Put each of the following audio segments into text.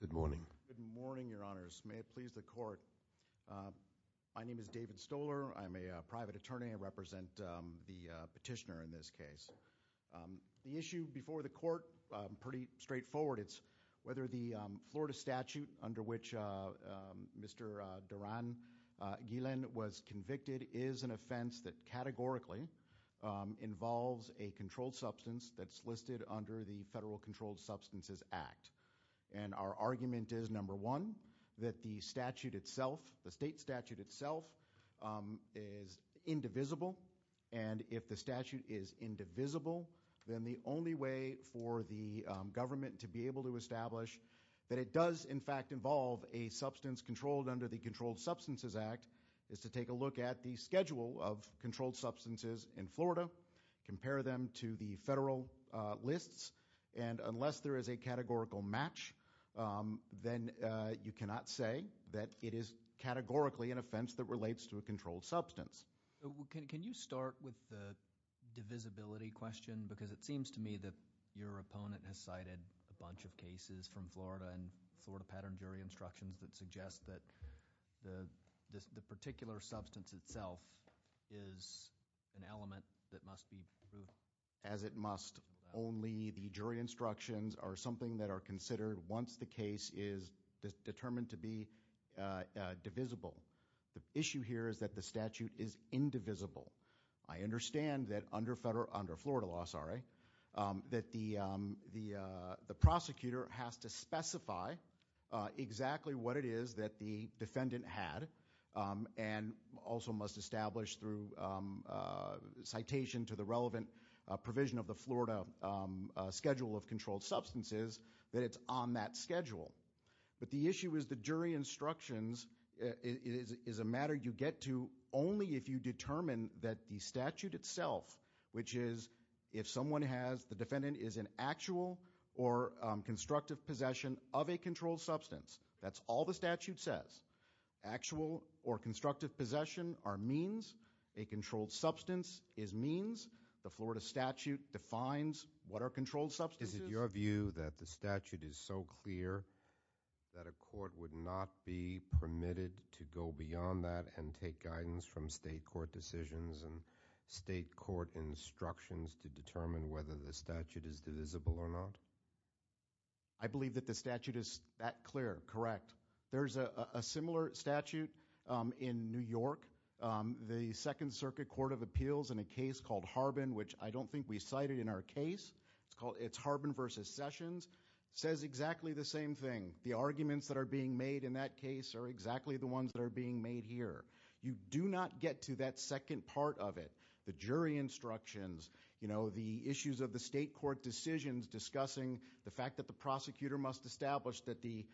Good morning. Good morning, your honors. May it please the court. My name is David Stoller. I'm a private attorney. I represent the petitioner in this case. The issue before the court, pretty straightforward, it's whether the Florida statute under which Mr. Duran Guillen was convicted is an offense that categorically involves a controlled substance that's listed under the Controlled Substances Act. And our argument is, number one, that the statute itself, the state statute itself, is indivisible. And if the statute is indivisible, then the only way for the government to be able to establish that it does in fact involve a substance controlled under the Controlled Substances Act is to take a look at the schedule of controlled substances in Florida, compare them to the federal lists, and unless there is a categorical match, then you cannot say that it is categorically an offense that relates to a controlled substance. Can you start with the divisibility question? Because it seems to me that your opponent has cited a bunch of cases from Florida and Florida pattern jury instructions that suggest that the particular substance itself is an element that must be only the jury instructions are something that are considered once the case is determined to be divisible. The issue here is that the statute is indivisible. I understand that under Florida law that the the prosecutor has to specify exactly what it is that the defendant had and also must establish through citation to the relevant provision of the Florida schedule of controlled substances that it's on that schedule. But the issue is the jury instructions is a matter you get to only if you determine that the statute itself, which is if someone has the defendant is an actual or constructive possession of a controlled substance. That's all the statute says. Actual or constructive possession are means. A controlled substance is means. The Florida statute defines what are controlled substances. Is it your view that the statute is so clear that a court would not be permitted to go beyond that and take guidance from state court decisions and state court instructions to determine whether the statute is divisible or not? I believe that the statute is that clear, correct. There's a similar statute in New York. The Second Harbin, which I don't think we cited in our case. It's Harbin versus Sessions. It says exactly the same thing. The arguments that are being made in that case are exactly the ones that are being made here. You do not get to that second part of it. The jury instructions, the issues of the state court decisions discussing the fact that the prosecutor must establish that the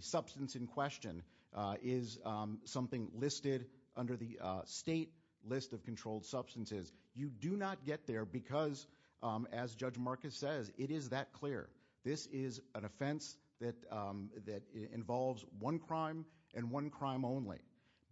substance in question is something listed under the state list of you do not get there because, as Judge Marcus says, it is that clear. This is an offense that involves one crime and one crime only.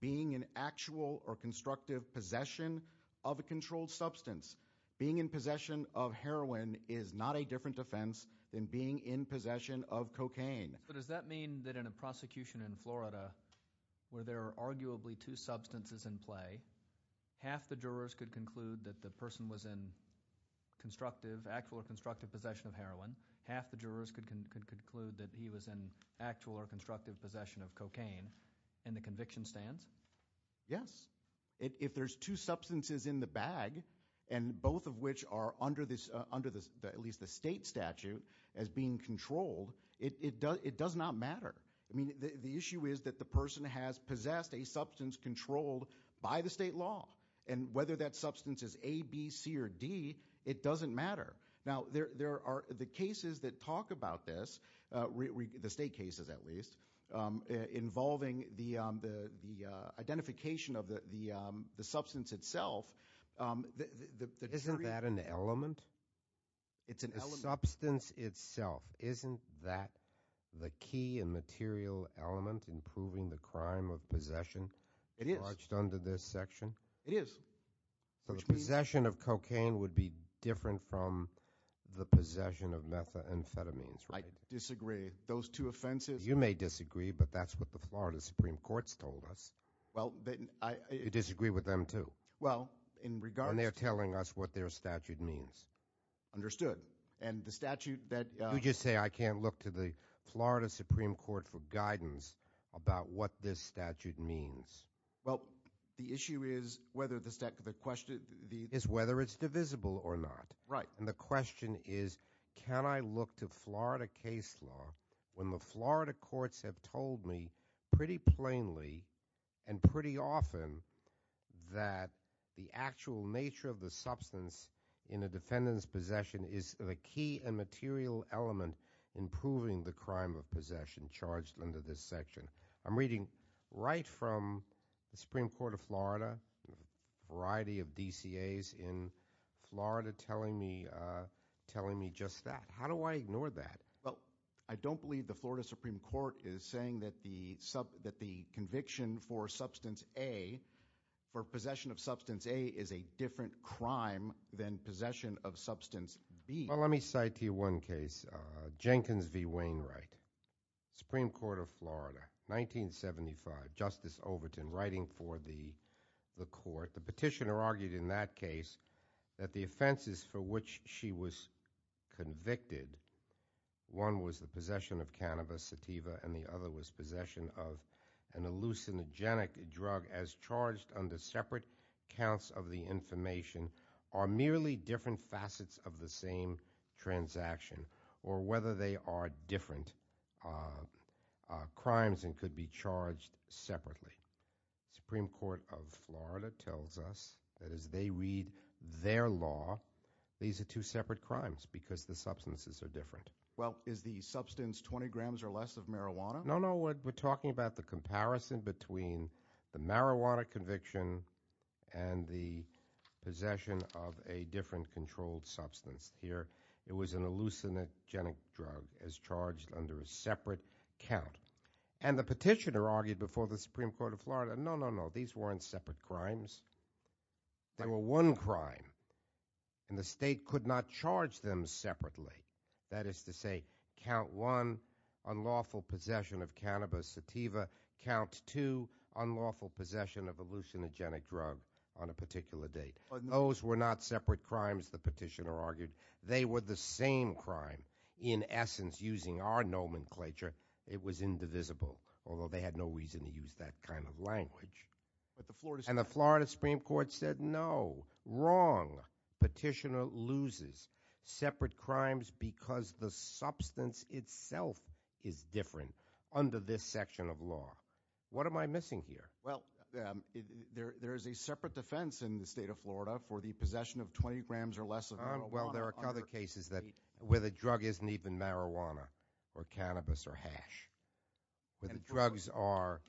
Being an actual or constructive possession of a controlled substance, being in possession of heroin is not a different offense than being in possession of cocaine. But does that mean that in a prosecution in Florida where there are arguably two substances in the bag, if the person was in actual or constructive possession of heroin, half the jurors could conclude that he was in actual or constructive possession of cocaine in the conviction stands? Yes. If there's two substances in the bag and both of which are under at least the state statute as being controlled, it does not matter. The issue is that the person has possessed a substance controlled by the state law. And whether that substance is A, B, C, or D, it doesn't matter. Now there are the cases that talk about this, the state cases at least, involving the identification of the substance itself. Isn't that an element? It's a substance itself. Isn't that the key and material element in proving the crime of possession? It is. So the possession of cocaine would be different from the possession of methamphetamines. I disagree. Those two offenses... You may disagree, but that's what the Florida Supreme Court's told us. You disagree with them too? Well, in regards... And they're telling us what their statute means. Understood. And the statute that... You just say I can't look to the Well, the issue is whether the statute... The question is whether it's divisible or not. Right. And the question is can I look to Florida case law when the Florida courts have told me pretty plainly and pretty often that the actual nature of the substance in a defendant's possession is the key and material element in proving the crime of possession charged under this section? I'm reading right from the Supreme Court of Florida, a variety of DCAs in Florida telling me just that. How do I ignore that? Well, I don't believe the Florida Supreme Court is saying that the conviction for substance A, for possession of substance A, is a different crime than possession of substance B. Well, let me cite one case, Jenkins v. Wainwright, Supreme Court of Florida, 1975, Justice Overton writing for the court. The petitioner argued in that case that the offenses for which she was convicted, one was the possession of cannabis, sativa, and the other was possession of an hallucinogenic drug as charged under separate counts of the information, are merely different facets of the same transaction or whether they are different crimes and could be charged separately. Supreme Court of Florida tells us that as they read their law, these are two separate crimes because the substances are different. Well, is the substance 20 grams or less of marijuana? No, no, we're talking about the comparison between the marijuana conviction and the possession of a different controlled substance. Here, it was an hallucinogenic drug as charged under a separate count. And the petitioner argued before the Supreme Court of Florida, no, no, no, these weren't separate crimes. They were one crime and the state could not charge them separately. That is to say, count one, unlawful possession of cannabis, sativa. Count two, unlawful possession of cannabis. They were the same crime. In essence, using our nomenclature, it was indivisible, although they had no reason to use that kind of language. And the Florida Supreme Court said, no, wrong. Petitioner loses separate crimes because the substance itself is different under this section of law. What am I missing here? Well, there is a separate defense in the state of Well, there are other cases where the drug isn't even marijuana or cannabis or hash. Where the drugs are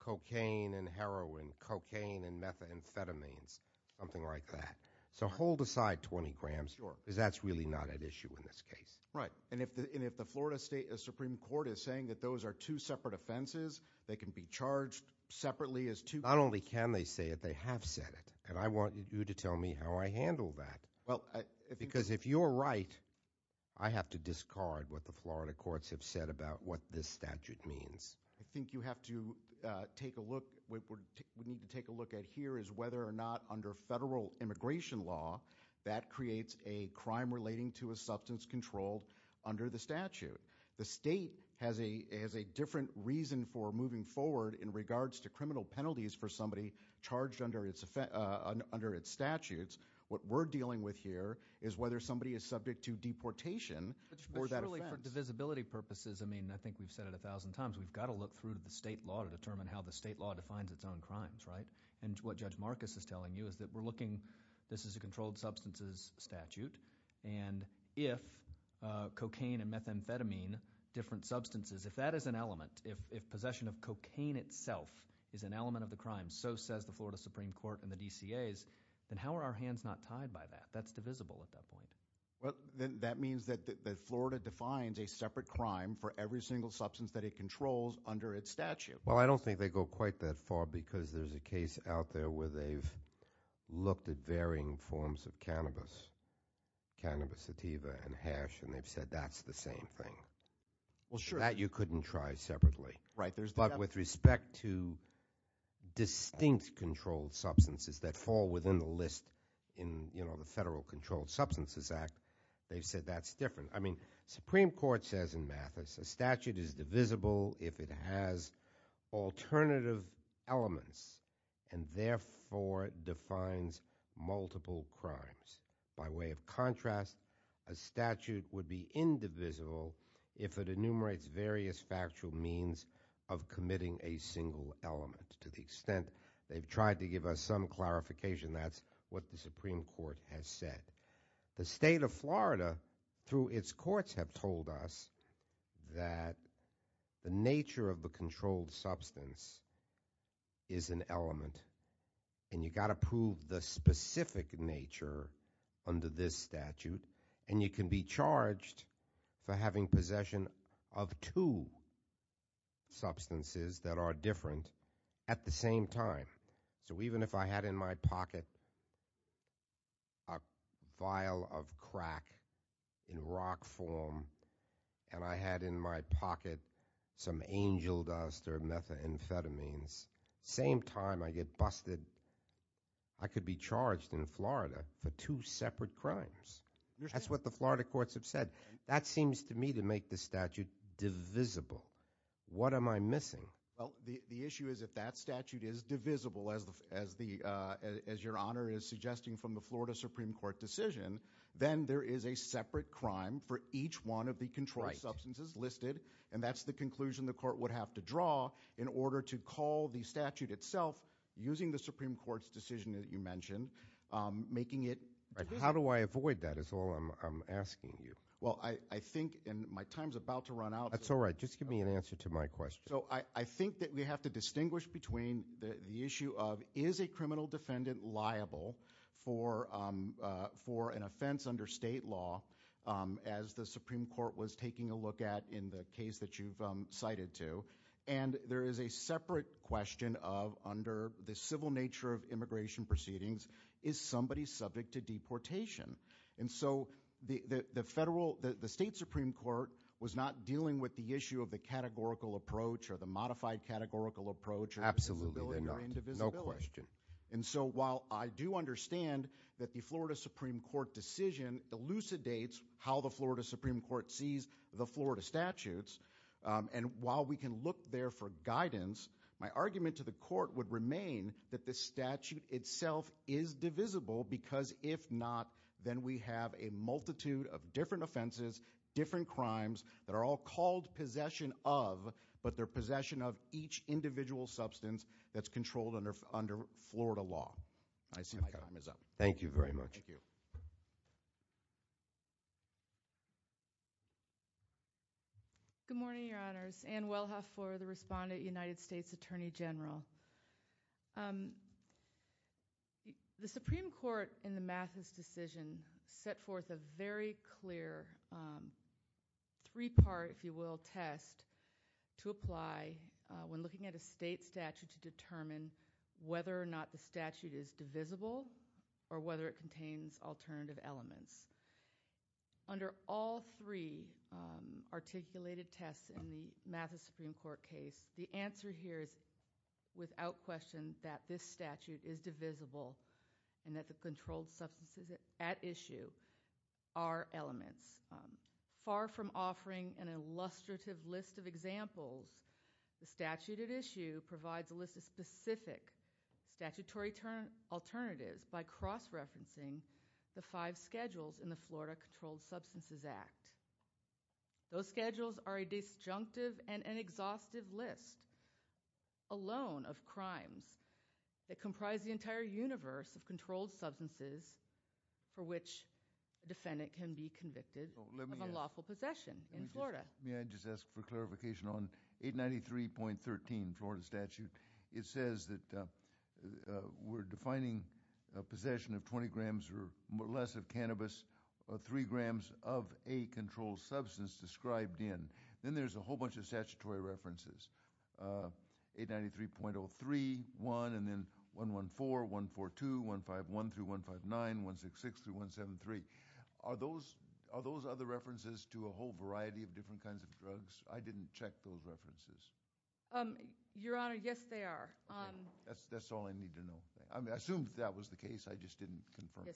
cocaine and heroin, cocaine and methamphetamines, something like that. So hold aside 20 grams because that's really not an issue in this case. Right, and if the Florida State Supreme Court is saying that those are two separate offenses, they can be charged separately as two? Not only can they say it, they have said it. And I want you to tell me how I handle that. Because if you're right, I have to discard what the Florida courts have said about what this statute means. I think you have to take a look, we need to take a look at here is whether or not under federal immigration law, that creates a crime relating to a substance controlled under the statute. The state penalties for somebody charged under its statutes. What we're dealing with here is whether somebody is subject to deportation. For divisibility purposes, I mean, I think we've said it a thousand times, we've got to look through to the state law to determine how the state law defines its own crimes, right? And what Judge Marcus is telling you is that we're looking, this is a controlled substances statute, and if cocaine and methamphetamine, different substances, if that is an element, if possession of cocaine itself is an element of the crime, so says the Florida Supreme Court and the DCA's, then how are our hands not tied by that? That's divisible at that point. Well, that means that Florida defines a separate crime for every single substance that it controls under its statute. Well, I don't think they go quite that far because there's a case out there where they've looked at varying forms of cannabis, cannabis sativa and hash, and they've said that's the same thing. Well, sure. That you couldn't try separately. Right. But with respect to distinct controlled substances that fall within the list in, you know, the Federal Controlled Substances Act, they've said that's different. I mean, Supreme Court says in Mathis, a statute is divisible if it has alternative elements and therefore defines multiple crimes. By way of contrast, a statute would be indivisible if it enumerates various factual means of committing a single element to the extent they've tried to give us some clarification. That's what the Supreme Court has said. The state of Florida, through its courts, have told us that the nature of the controlled substance is an element, and you got to prove the possession of two substances that are different at the same time. So even if I had in my pocket a vial of crack in rock form and I had in my pocket some angel dust or methamphetamines, same time I get busted, I could be charged in Florida for two separate crimes. That's what the Florida courts have said. That seems to me to make the statute divisible. What am I missing? Well, the issue is if that statute is divisible, as your Honor is suggesting from the Florida Supreme Court decision, then there is a separate crime for each one of the controlled substances listed, and that's the conclusion the court would have to draw in order to call the statute itself using the Supreme Court's decision that you mentioned, making it divisible. How do I avoid that is all I'm asking you. Well, I think my time's about to run out. That's all right. Just give me an answer to my question. So I think that we have to distinguish between the issue of, is a criminal defendant liable for an offense under state law, as the Supreme Court was taking a look at in the case that you've cited to, and there is a separate question of, under the civil nature of immigration proceedings, is somebody subject to deportation? And so the federal, the state Supreme Court was not dealing with the issue of the categorical approach or the modified categorical approach or indivisibility. Absolutely, no question. And so while I do understand that the Florida Supreme Court decision elucidates how the Florida Supreme Court sees the Florida statutes, and while we can look there for guidance, my argument to the court would remain that the statute itself is indivisible, because if not, then we have a multitude of different offenses, different crimes, that are all called possession of, but they're possession of each individual substance that's controlled under Florida law. I see my time is up. Thank you very much. Good morning, Your Honors. Ann Wellhoff for the respondent, United States Attorney General. The Supreme Court, in the Mathis decision, set forth a very clear, three-part, if you will, test to apply when looking at a state statute to determine whether or not the statute is divisible or whether it contains alternative elements. Under all three articulated tests in the Mathis Supreme Court case, the answer here is without question that this statute is divisible and that the controlled substances at issue are elements. Far from offering an illustrative list of examples, the statute at issue provides a list of specific statutory alternatives by cross-referencing the five schedules in the Florida Controlled Substances Act. Those schedules are a disjunctive and an unlawful list alone of crimes that comprise the entire universe of controlled substances for which a defendant can be convicted of unlawful possession in Florida. May I just ask for clarification on 893.13, Florida statute. It says that we're defining a possession of 20 grams or less of cannabis or 3 grams of a controlled substance described in. Then there's a 893.03.1 and then 114, 142, 151 through 159, 166 through 173. Are those other references to a whole variety of different kinds of drugs? I didn't check those references. Your Honor, yes they are. That's all I need to know. I assumed that was the case, I just didn't confirm.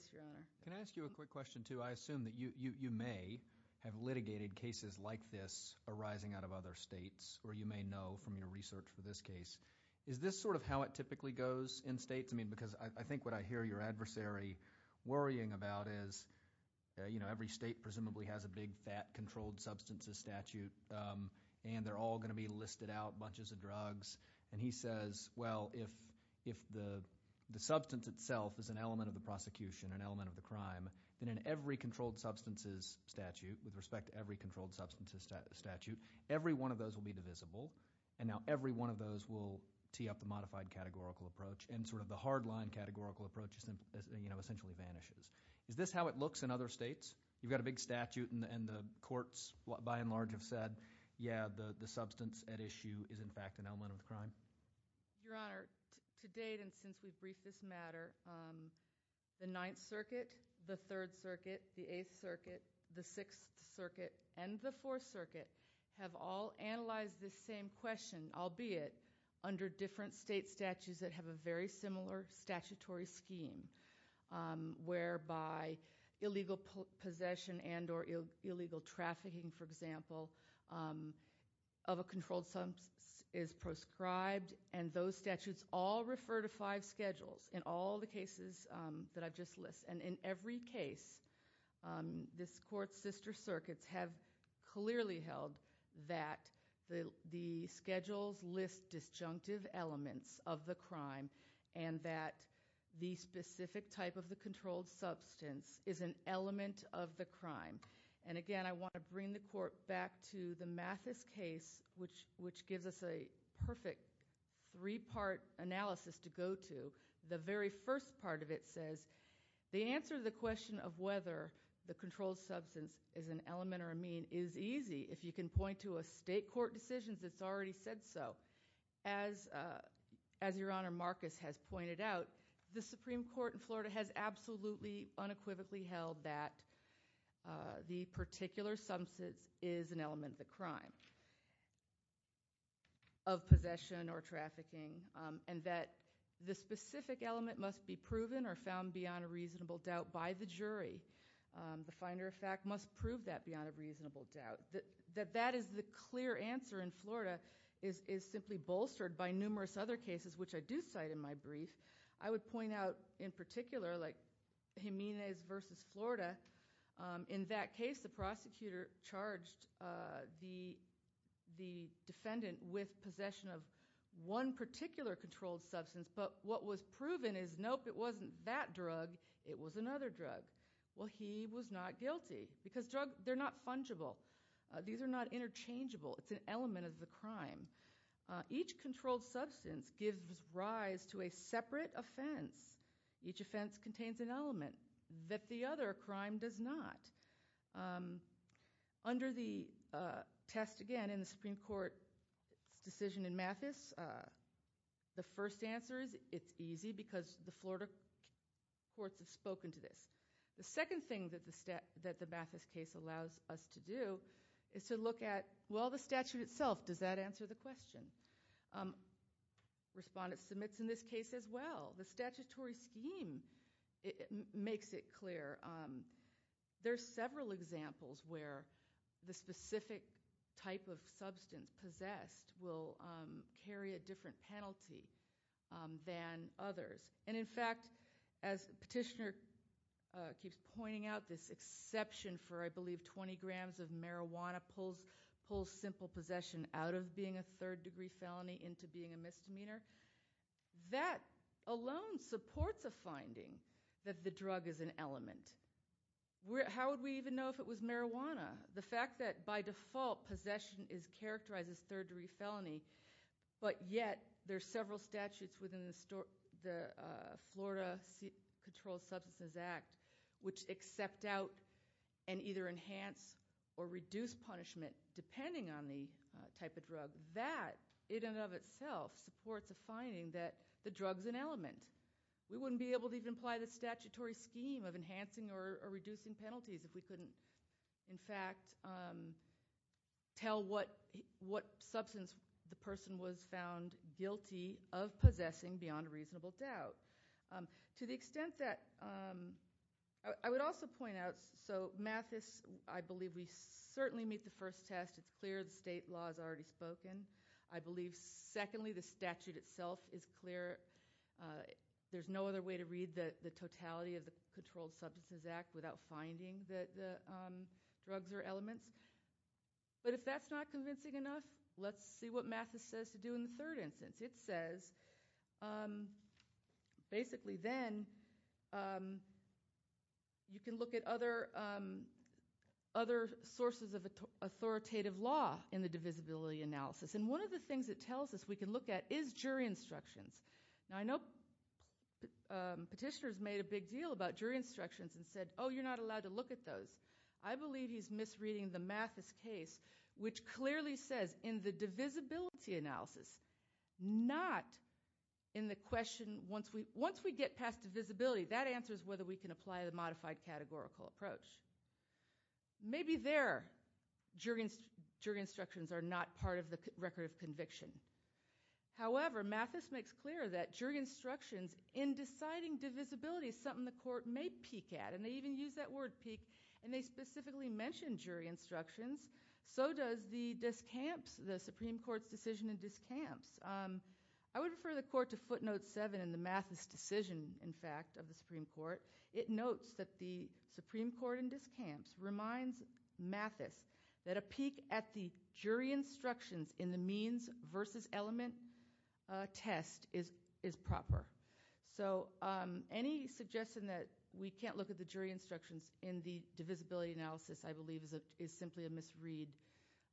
Can I ask you a quick question too? I assume that you may have litigated cases like this arising out of other states or you may know from your research for this case. Is this sort of how it typically goes in states? I mean, because I think what I hear your adversary worrying about is, you know, every state presumably has a big fat controlled substances statute and they're all going to be listed out bunches of drugs. He says, well, if the substance itself is an element of the prosecution, an element of the crime, then in every controlled substances statute, with respect to every controlled substances statute, every one of those will be divisible and now every one of those will tee up the modified categorical approach and sort of the hard-line categorical approach essentially vanishes. Is this how it looks in other states? You've got a big statute and the courts by and large have said, yeah, the substance at issue is in fact an element of the crime? Your Honor, to date and since we briefed this the Sixth Circuit and the Fourth Circuit have all analyzed this same question, albeit under different state statutes that have a very similar statutory scheme whereby illegal possession and or illegal trafficking, for example, of a controlled substance is proscribed and those statutes all refer to five statutes and the court's sister circuits have clearly held that the schedules list disjunctive elements of the crime and that the specific type of the controlled substance is an element of the crime and again I want to bring the court back to the Mathis case, which gives us a perfect three-part analysis to go to. The very first part of it says, the answer to the question of whether the controlled substance is an element or a mean is easy. If you can point to a state court decision that's already said so. As Your Honor, Marcus has pointed out, the Supreme Court in Florida has absolutely unequivocally held that the particular substance is an element of the crime of possession or trafficking and that the specific element must be proven or found beyond a reasonable doubt by the jury. The finder of fact must prove that beyond a reasonable doubt. That that is the clear answer in Florida is simply bolstered by numerous other cases, which I do cite in my brief. I would point out in particular, like Jimenez v. Florida, in that case the prosecutor charged the defendant with possession of one particular controlled substance, but what was proven is nope, it wasn't that drug, it was another drug. Well, he was not guilty because drugs, they're not fungible. These are not interchangeable. It's an element of the crime. Each controlled substance gives rise to a separate offense. Each offense contains an element that the other crime does not. Under the test again in the Supreme Court's decision in The second thing that the Mathis case allows us to do is to look at, well, the statute itself, does that answer the question? Respondents submits in this case as well. The statutory scheme makes it clear. There are several examples where the specific type of substance possessed will carry a different penalty than others, and in fact, as Petitioner keeps pointing out, this exception for, I believe, 20 grams of marijuana pulls simple possession out of being a third-degree felony into being a misdemeanor. That alone supports a finding that the drug is an element. How would we even know if it was marijuana? The fact that by default possession is characterized as third- degree, the Florida Controlled Substances Act, which accept out and either enhance or reduce punishment depending on the type of drug, that in and of itself supports a finding that the drug's an element. We wouldn't be able to even apply the statutory scheme of enhancing or reducing penalties if we couldn't, in fact, tell what substance the person was found guilty of possessing beyond a reasonable doubt. To the extent that, I would also point out, so Mathis, I believe we certainly meet the first test. It's clear the state law is already spoken. I believe, secondly, the statute itself is clear. There's no other way to read the totality of the Controlled Substances Act without finding that the drugs are elements, but if that's not convincing enough, let's see what Mathis says to do in the third instance. It says, basically, then you can look at other sources of authoritative law in the divisibility analysis, and one of the things it tells us we can look at is jury instructions. I know petitioners made a big deal about jury instructions and said, oh, you're not allowed to look at those. I believe he's misreading the Mathis case, which clearly says in the divisibility analysis, not in the question, once we get past divisibility, that answers whether we can apply the modified categorical approach. Maybe there, jury instructions are not part of the record of conviction. However, Mathis makes clear that jury instructions, in deciding divisibility, is something the court may peek at, and they even use that word, peek, and they specifically mention jury instructions. So does the Supreme Court's decision in Discamps. I would refer the court to footnote 7 in the Mathis decision, in fact, of the Supreme Court. It notes that the Supreme Court in Discamps reminds Mathis that a peek at the jury instructions in the means versus element test is proper. So any suggestion that we can't look at the jury instructions in the divisibility analysis, I believe, is simply a misread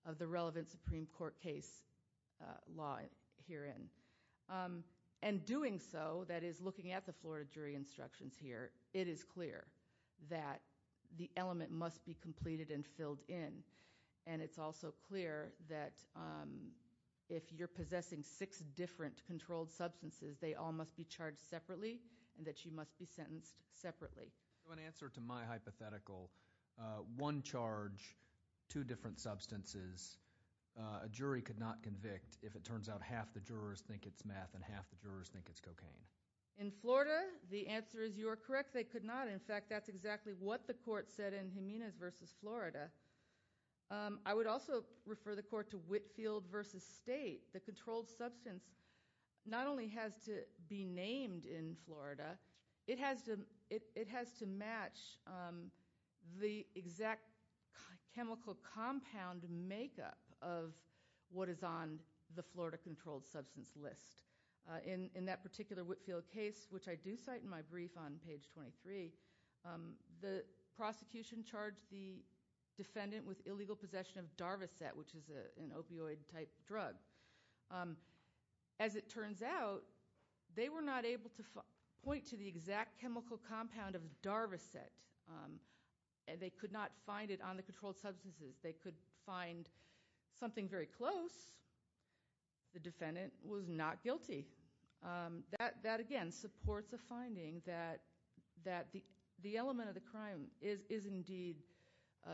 of the relevant Supreme Court case law herein. And doing so, that is looking at the Florida jury instructions here, it is clear that the element must be completed and filled in. And it's also clear that if you're possessing six different controlled substances, they all must be charged separately, and that you must be in my hypothetical, one charge, two different substances. A jury could not convict if it turns out half the jurors think it's math and half the jurors think it's cocaine. In Florida, the answer is you are correct, they could not. In fact, that's exactly what the court said in Jimenez versus Florida. I would also refer the court to Whitfield versus State. The controlled substance not only has to be named in Florida, it has to match the exact chemical compound makeup of what is on the Florida controlled substance list. In that particular Whitfield case, which I do cite in my brief on page 23, the prosecution charged the defendant with illegal possession of Darvocet, which is an opioid type drug. As it turns out, they were not able to point to the exact chemical compound of Darvocet, and they could not find it on the controlled substances. They could find something very close. The defendant was not guilty. That, again, supports a finding that the element of the crime is indeed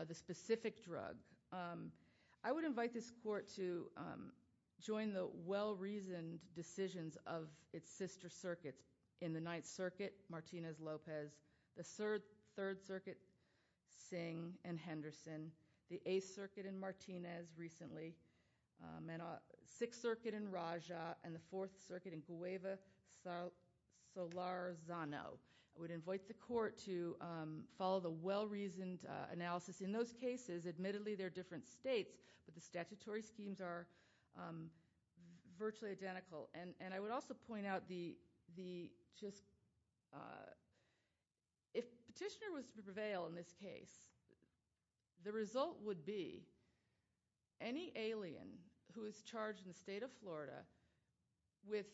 the specific drug. I would invite this court to join the well-reasoned decisions of its sister circuits in the Ninth Circuit, Martinez-Lopez, the Third Circuit, Singh and Henderson, the Eighth Circuit in Martinez recently, Sixth Circuit in Raja, and the Fourth Circuit in Cueva-Solarzano. I would point out the well-reasoned analysis. In those cases, admittedly, they're different states, but the statutory schemes are virtually identical. I would also point out, if Petitioner was to prevail in this case, the result would be any alien who is charged in the state of Florida with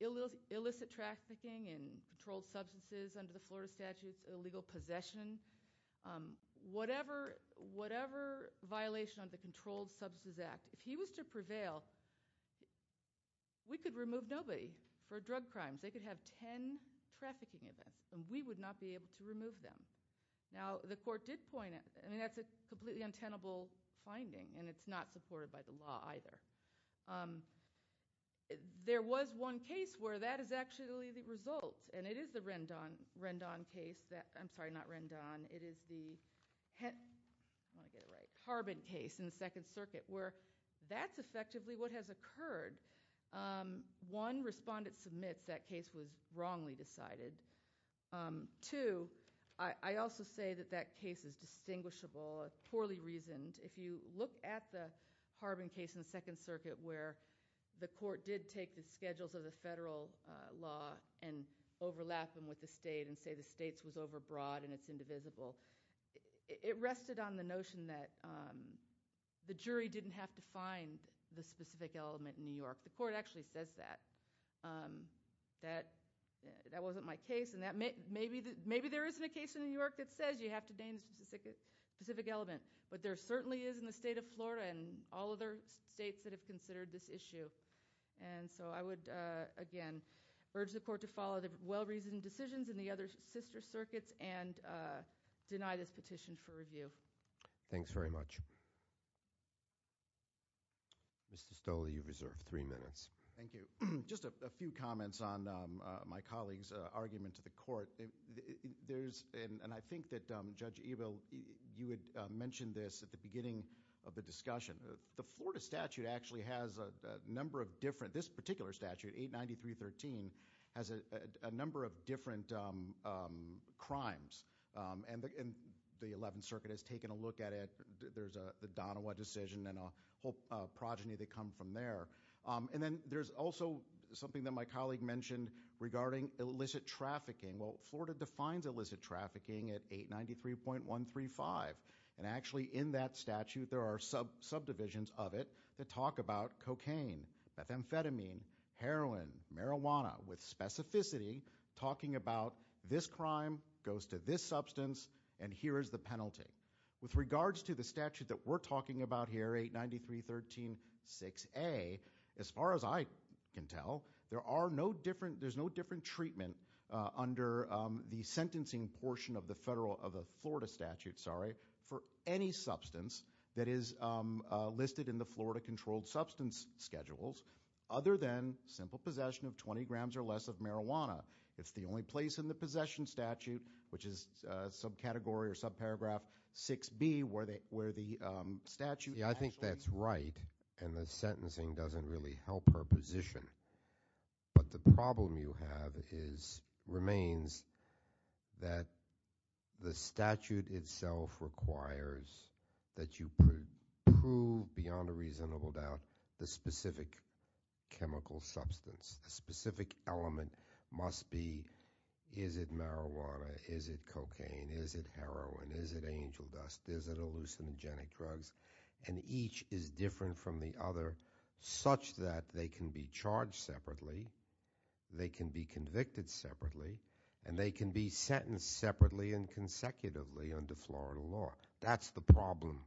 illicit trafficking in controlled substances under the Controlled Substances Act. Whatever violation of the Controlled Substances Act, if he was to prevail, we could remove nobody for drug crimes. They could have 10 trafficking events, and we would not be able to remove them. Now, the court did point it. I mean, that's a completely untenable finding, and it's not supported by the law either. There was one case where that is actually the result, and it is the Harbin case in the Second Circuit, where that's effectively what has occurred. One, respondent submits that case was wrongly decided. Two, I also say that that case is distinguishable, poorly reasoned. If you look at the Harbin case in the Second Circuit, where the court did take the schedules of the federal law and overlap them with the state and say the state's was overbroad and it's indivisible, it rested on the notion that the jury didn't have to find the specific element in New York. The court actually says that. That wasn't my case, and maybe there isn't a case in New York that says you have to name a specific element, but there certainly is in the state of Florida and all other states that have considered this issue, and so I would again urge the court to follow the well-reasoned decisions in the other sister circuits and deny this petition for review. Thanks very much. Mr. Stoll, you've reserved three minutes. Thank you. Just a few comments on my colleague's argument to the court. There's, and I think that Judge Evel, you had mentioned this at the beginning of the discussion. The Florida statute actually has a number of different, this particular statute, 893.13, has a number of different crimes, and the Eleventh Circuit has taken a look at it. There's the Donawa decision and a whole progeny that come from there, and then there's also something that my colleague mentioned regarding illicit trafficking. Well, Florida defines illicit trafficking at 893.135, and actually in that statute there are subdivisions of it that talk about cocaine, methamphetamine, heroin, marijuana, with specificity talking about this crime goes to this substance, and here is the penalty. With regards to the statute that we're talking about here, 893.136a, as far as I can tell, there are no different, there's no different treatment under the sentencing portion of the Florida statute for any drug listed in the Florida Controlled Substance Schedules other than simple possession of 20 grams or less of marijuana. It's the only place in the possession statute, which is subcategory or subparagraph 6b, where the statute actually... Yeah, I think that's right, and the sentencing doesn't really help her position, but the problem you have is, remains, that the statute itself requires that you prove beyond a reasonable doubt the specific chemical substance, the specific element must be, is it marijuana, is it cocaine, is it heroin, is it angel dust, is it hallucinogenic drugs, and each is different from the other such that they can be charged separately, they can be convicted separately, and they can be sentenced separately and That's the problem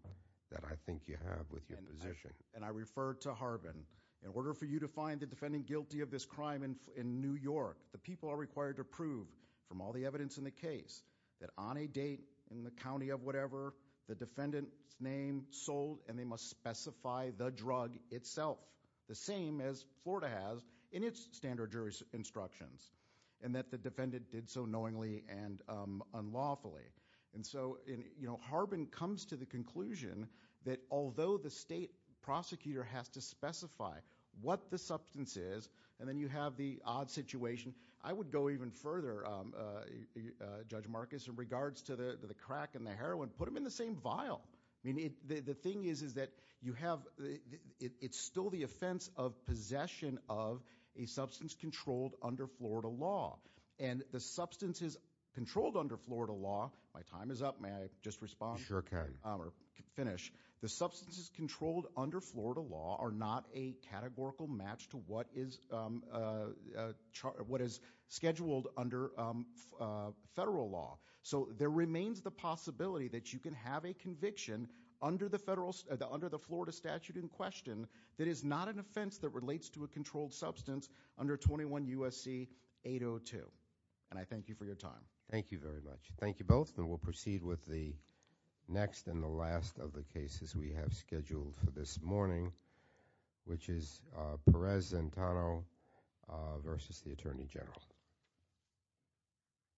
that I think you have with your position. And I refer to Harbin. In order for you to find the defendant guilty of this crime in New York, the people are required to prove, from all the evidence in the case, that on a date in the county of whatever, the defendant's name sold and they must specify the drug itself, the same as Florida has in its standard jury instructions, and that the defendant did so knowingly and unlawfully. And so Harbin comes to the conclusion that although the state prosecutor has to specify what the substance is, and then you have the odd situation, I would go even further, Judge Marcus, in regards to the crack and the heroin, put them in the same vial. The thing is that you have, it's still the offense of possession of a substance is controlled under Florida law. My time is up. May I just respond? Sure. Okay. Finish. The substance is controlled under Florida law are not a categorical match to what is what is scheduled under federal law. So there remains the possibility that you can have a conviction under the Florida statute in question that is not an offense that relates to a Thank you for your time. Thank you very much. Thank you both, and we'll proceed with the next and the last of the cases we have scheduled for this morning, which is Perez Zantano versus the Attorney General.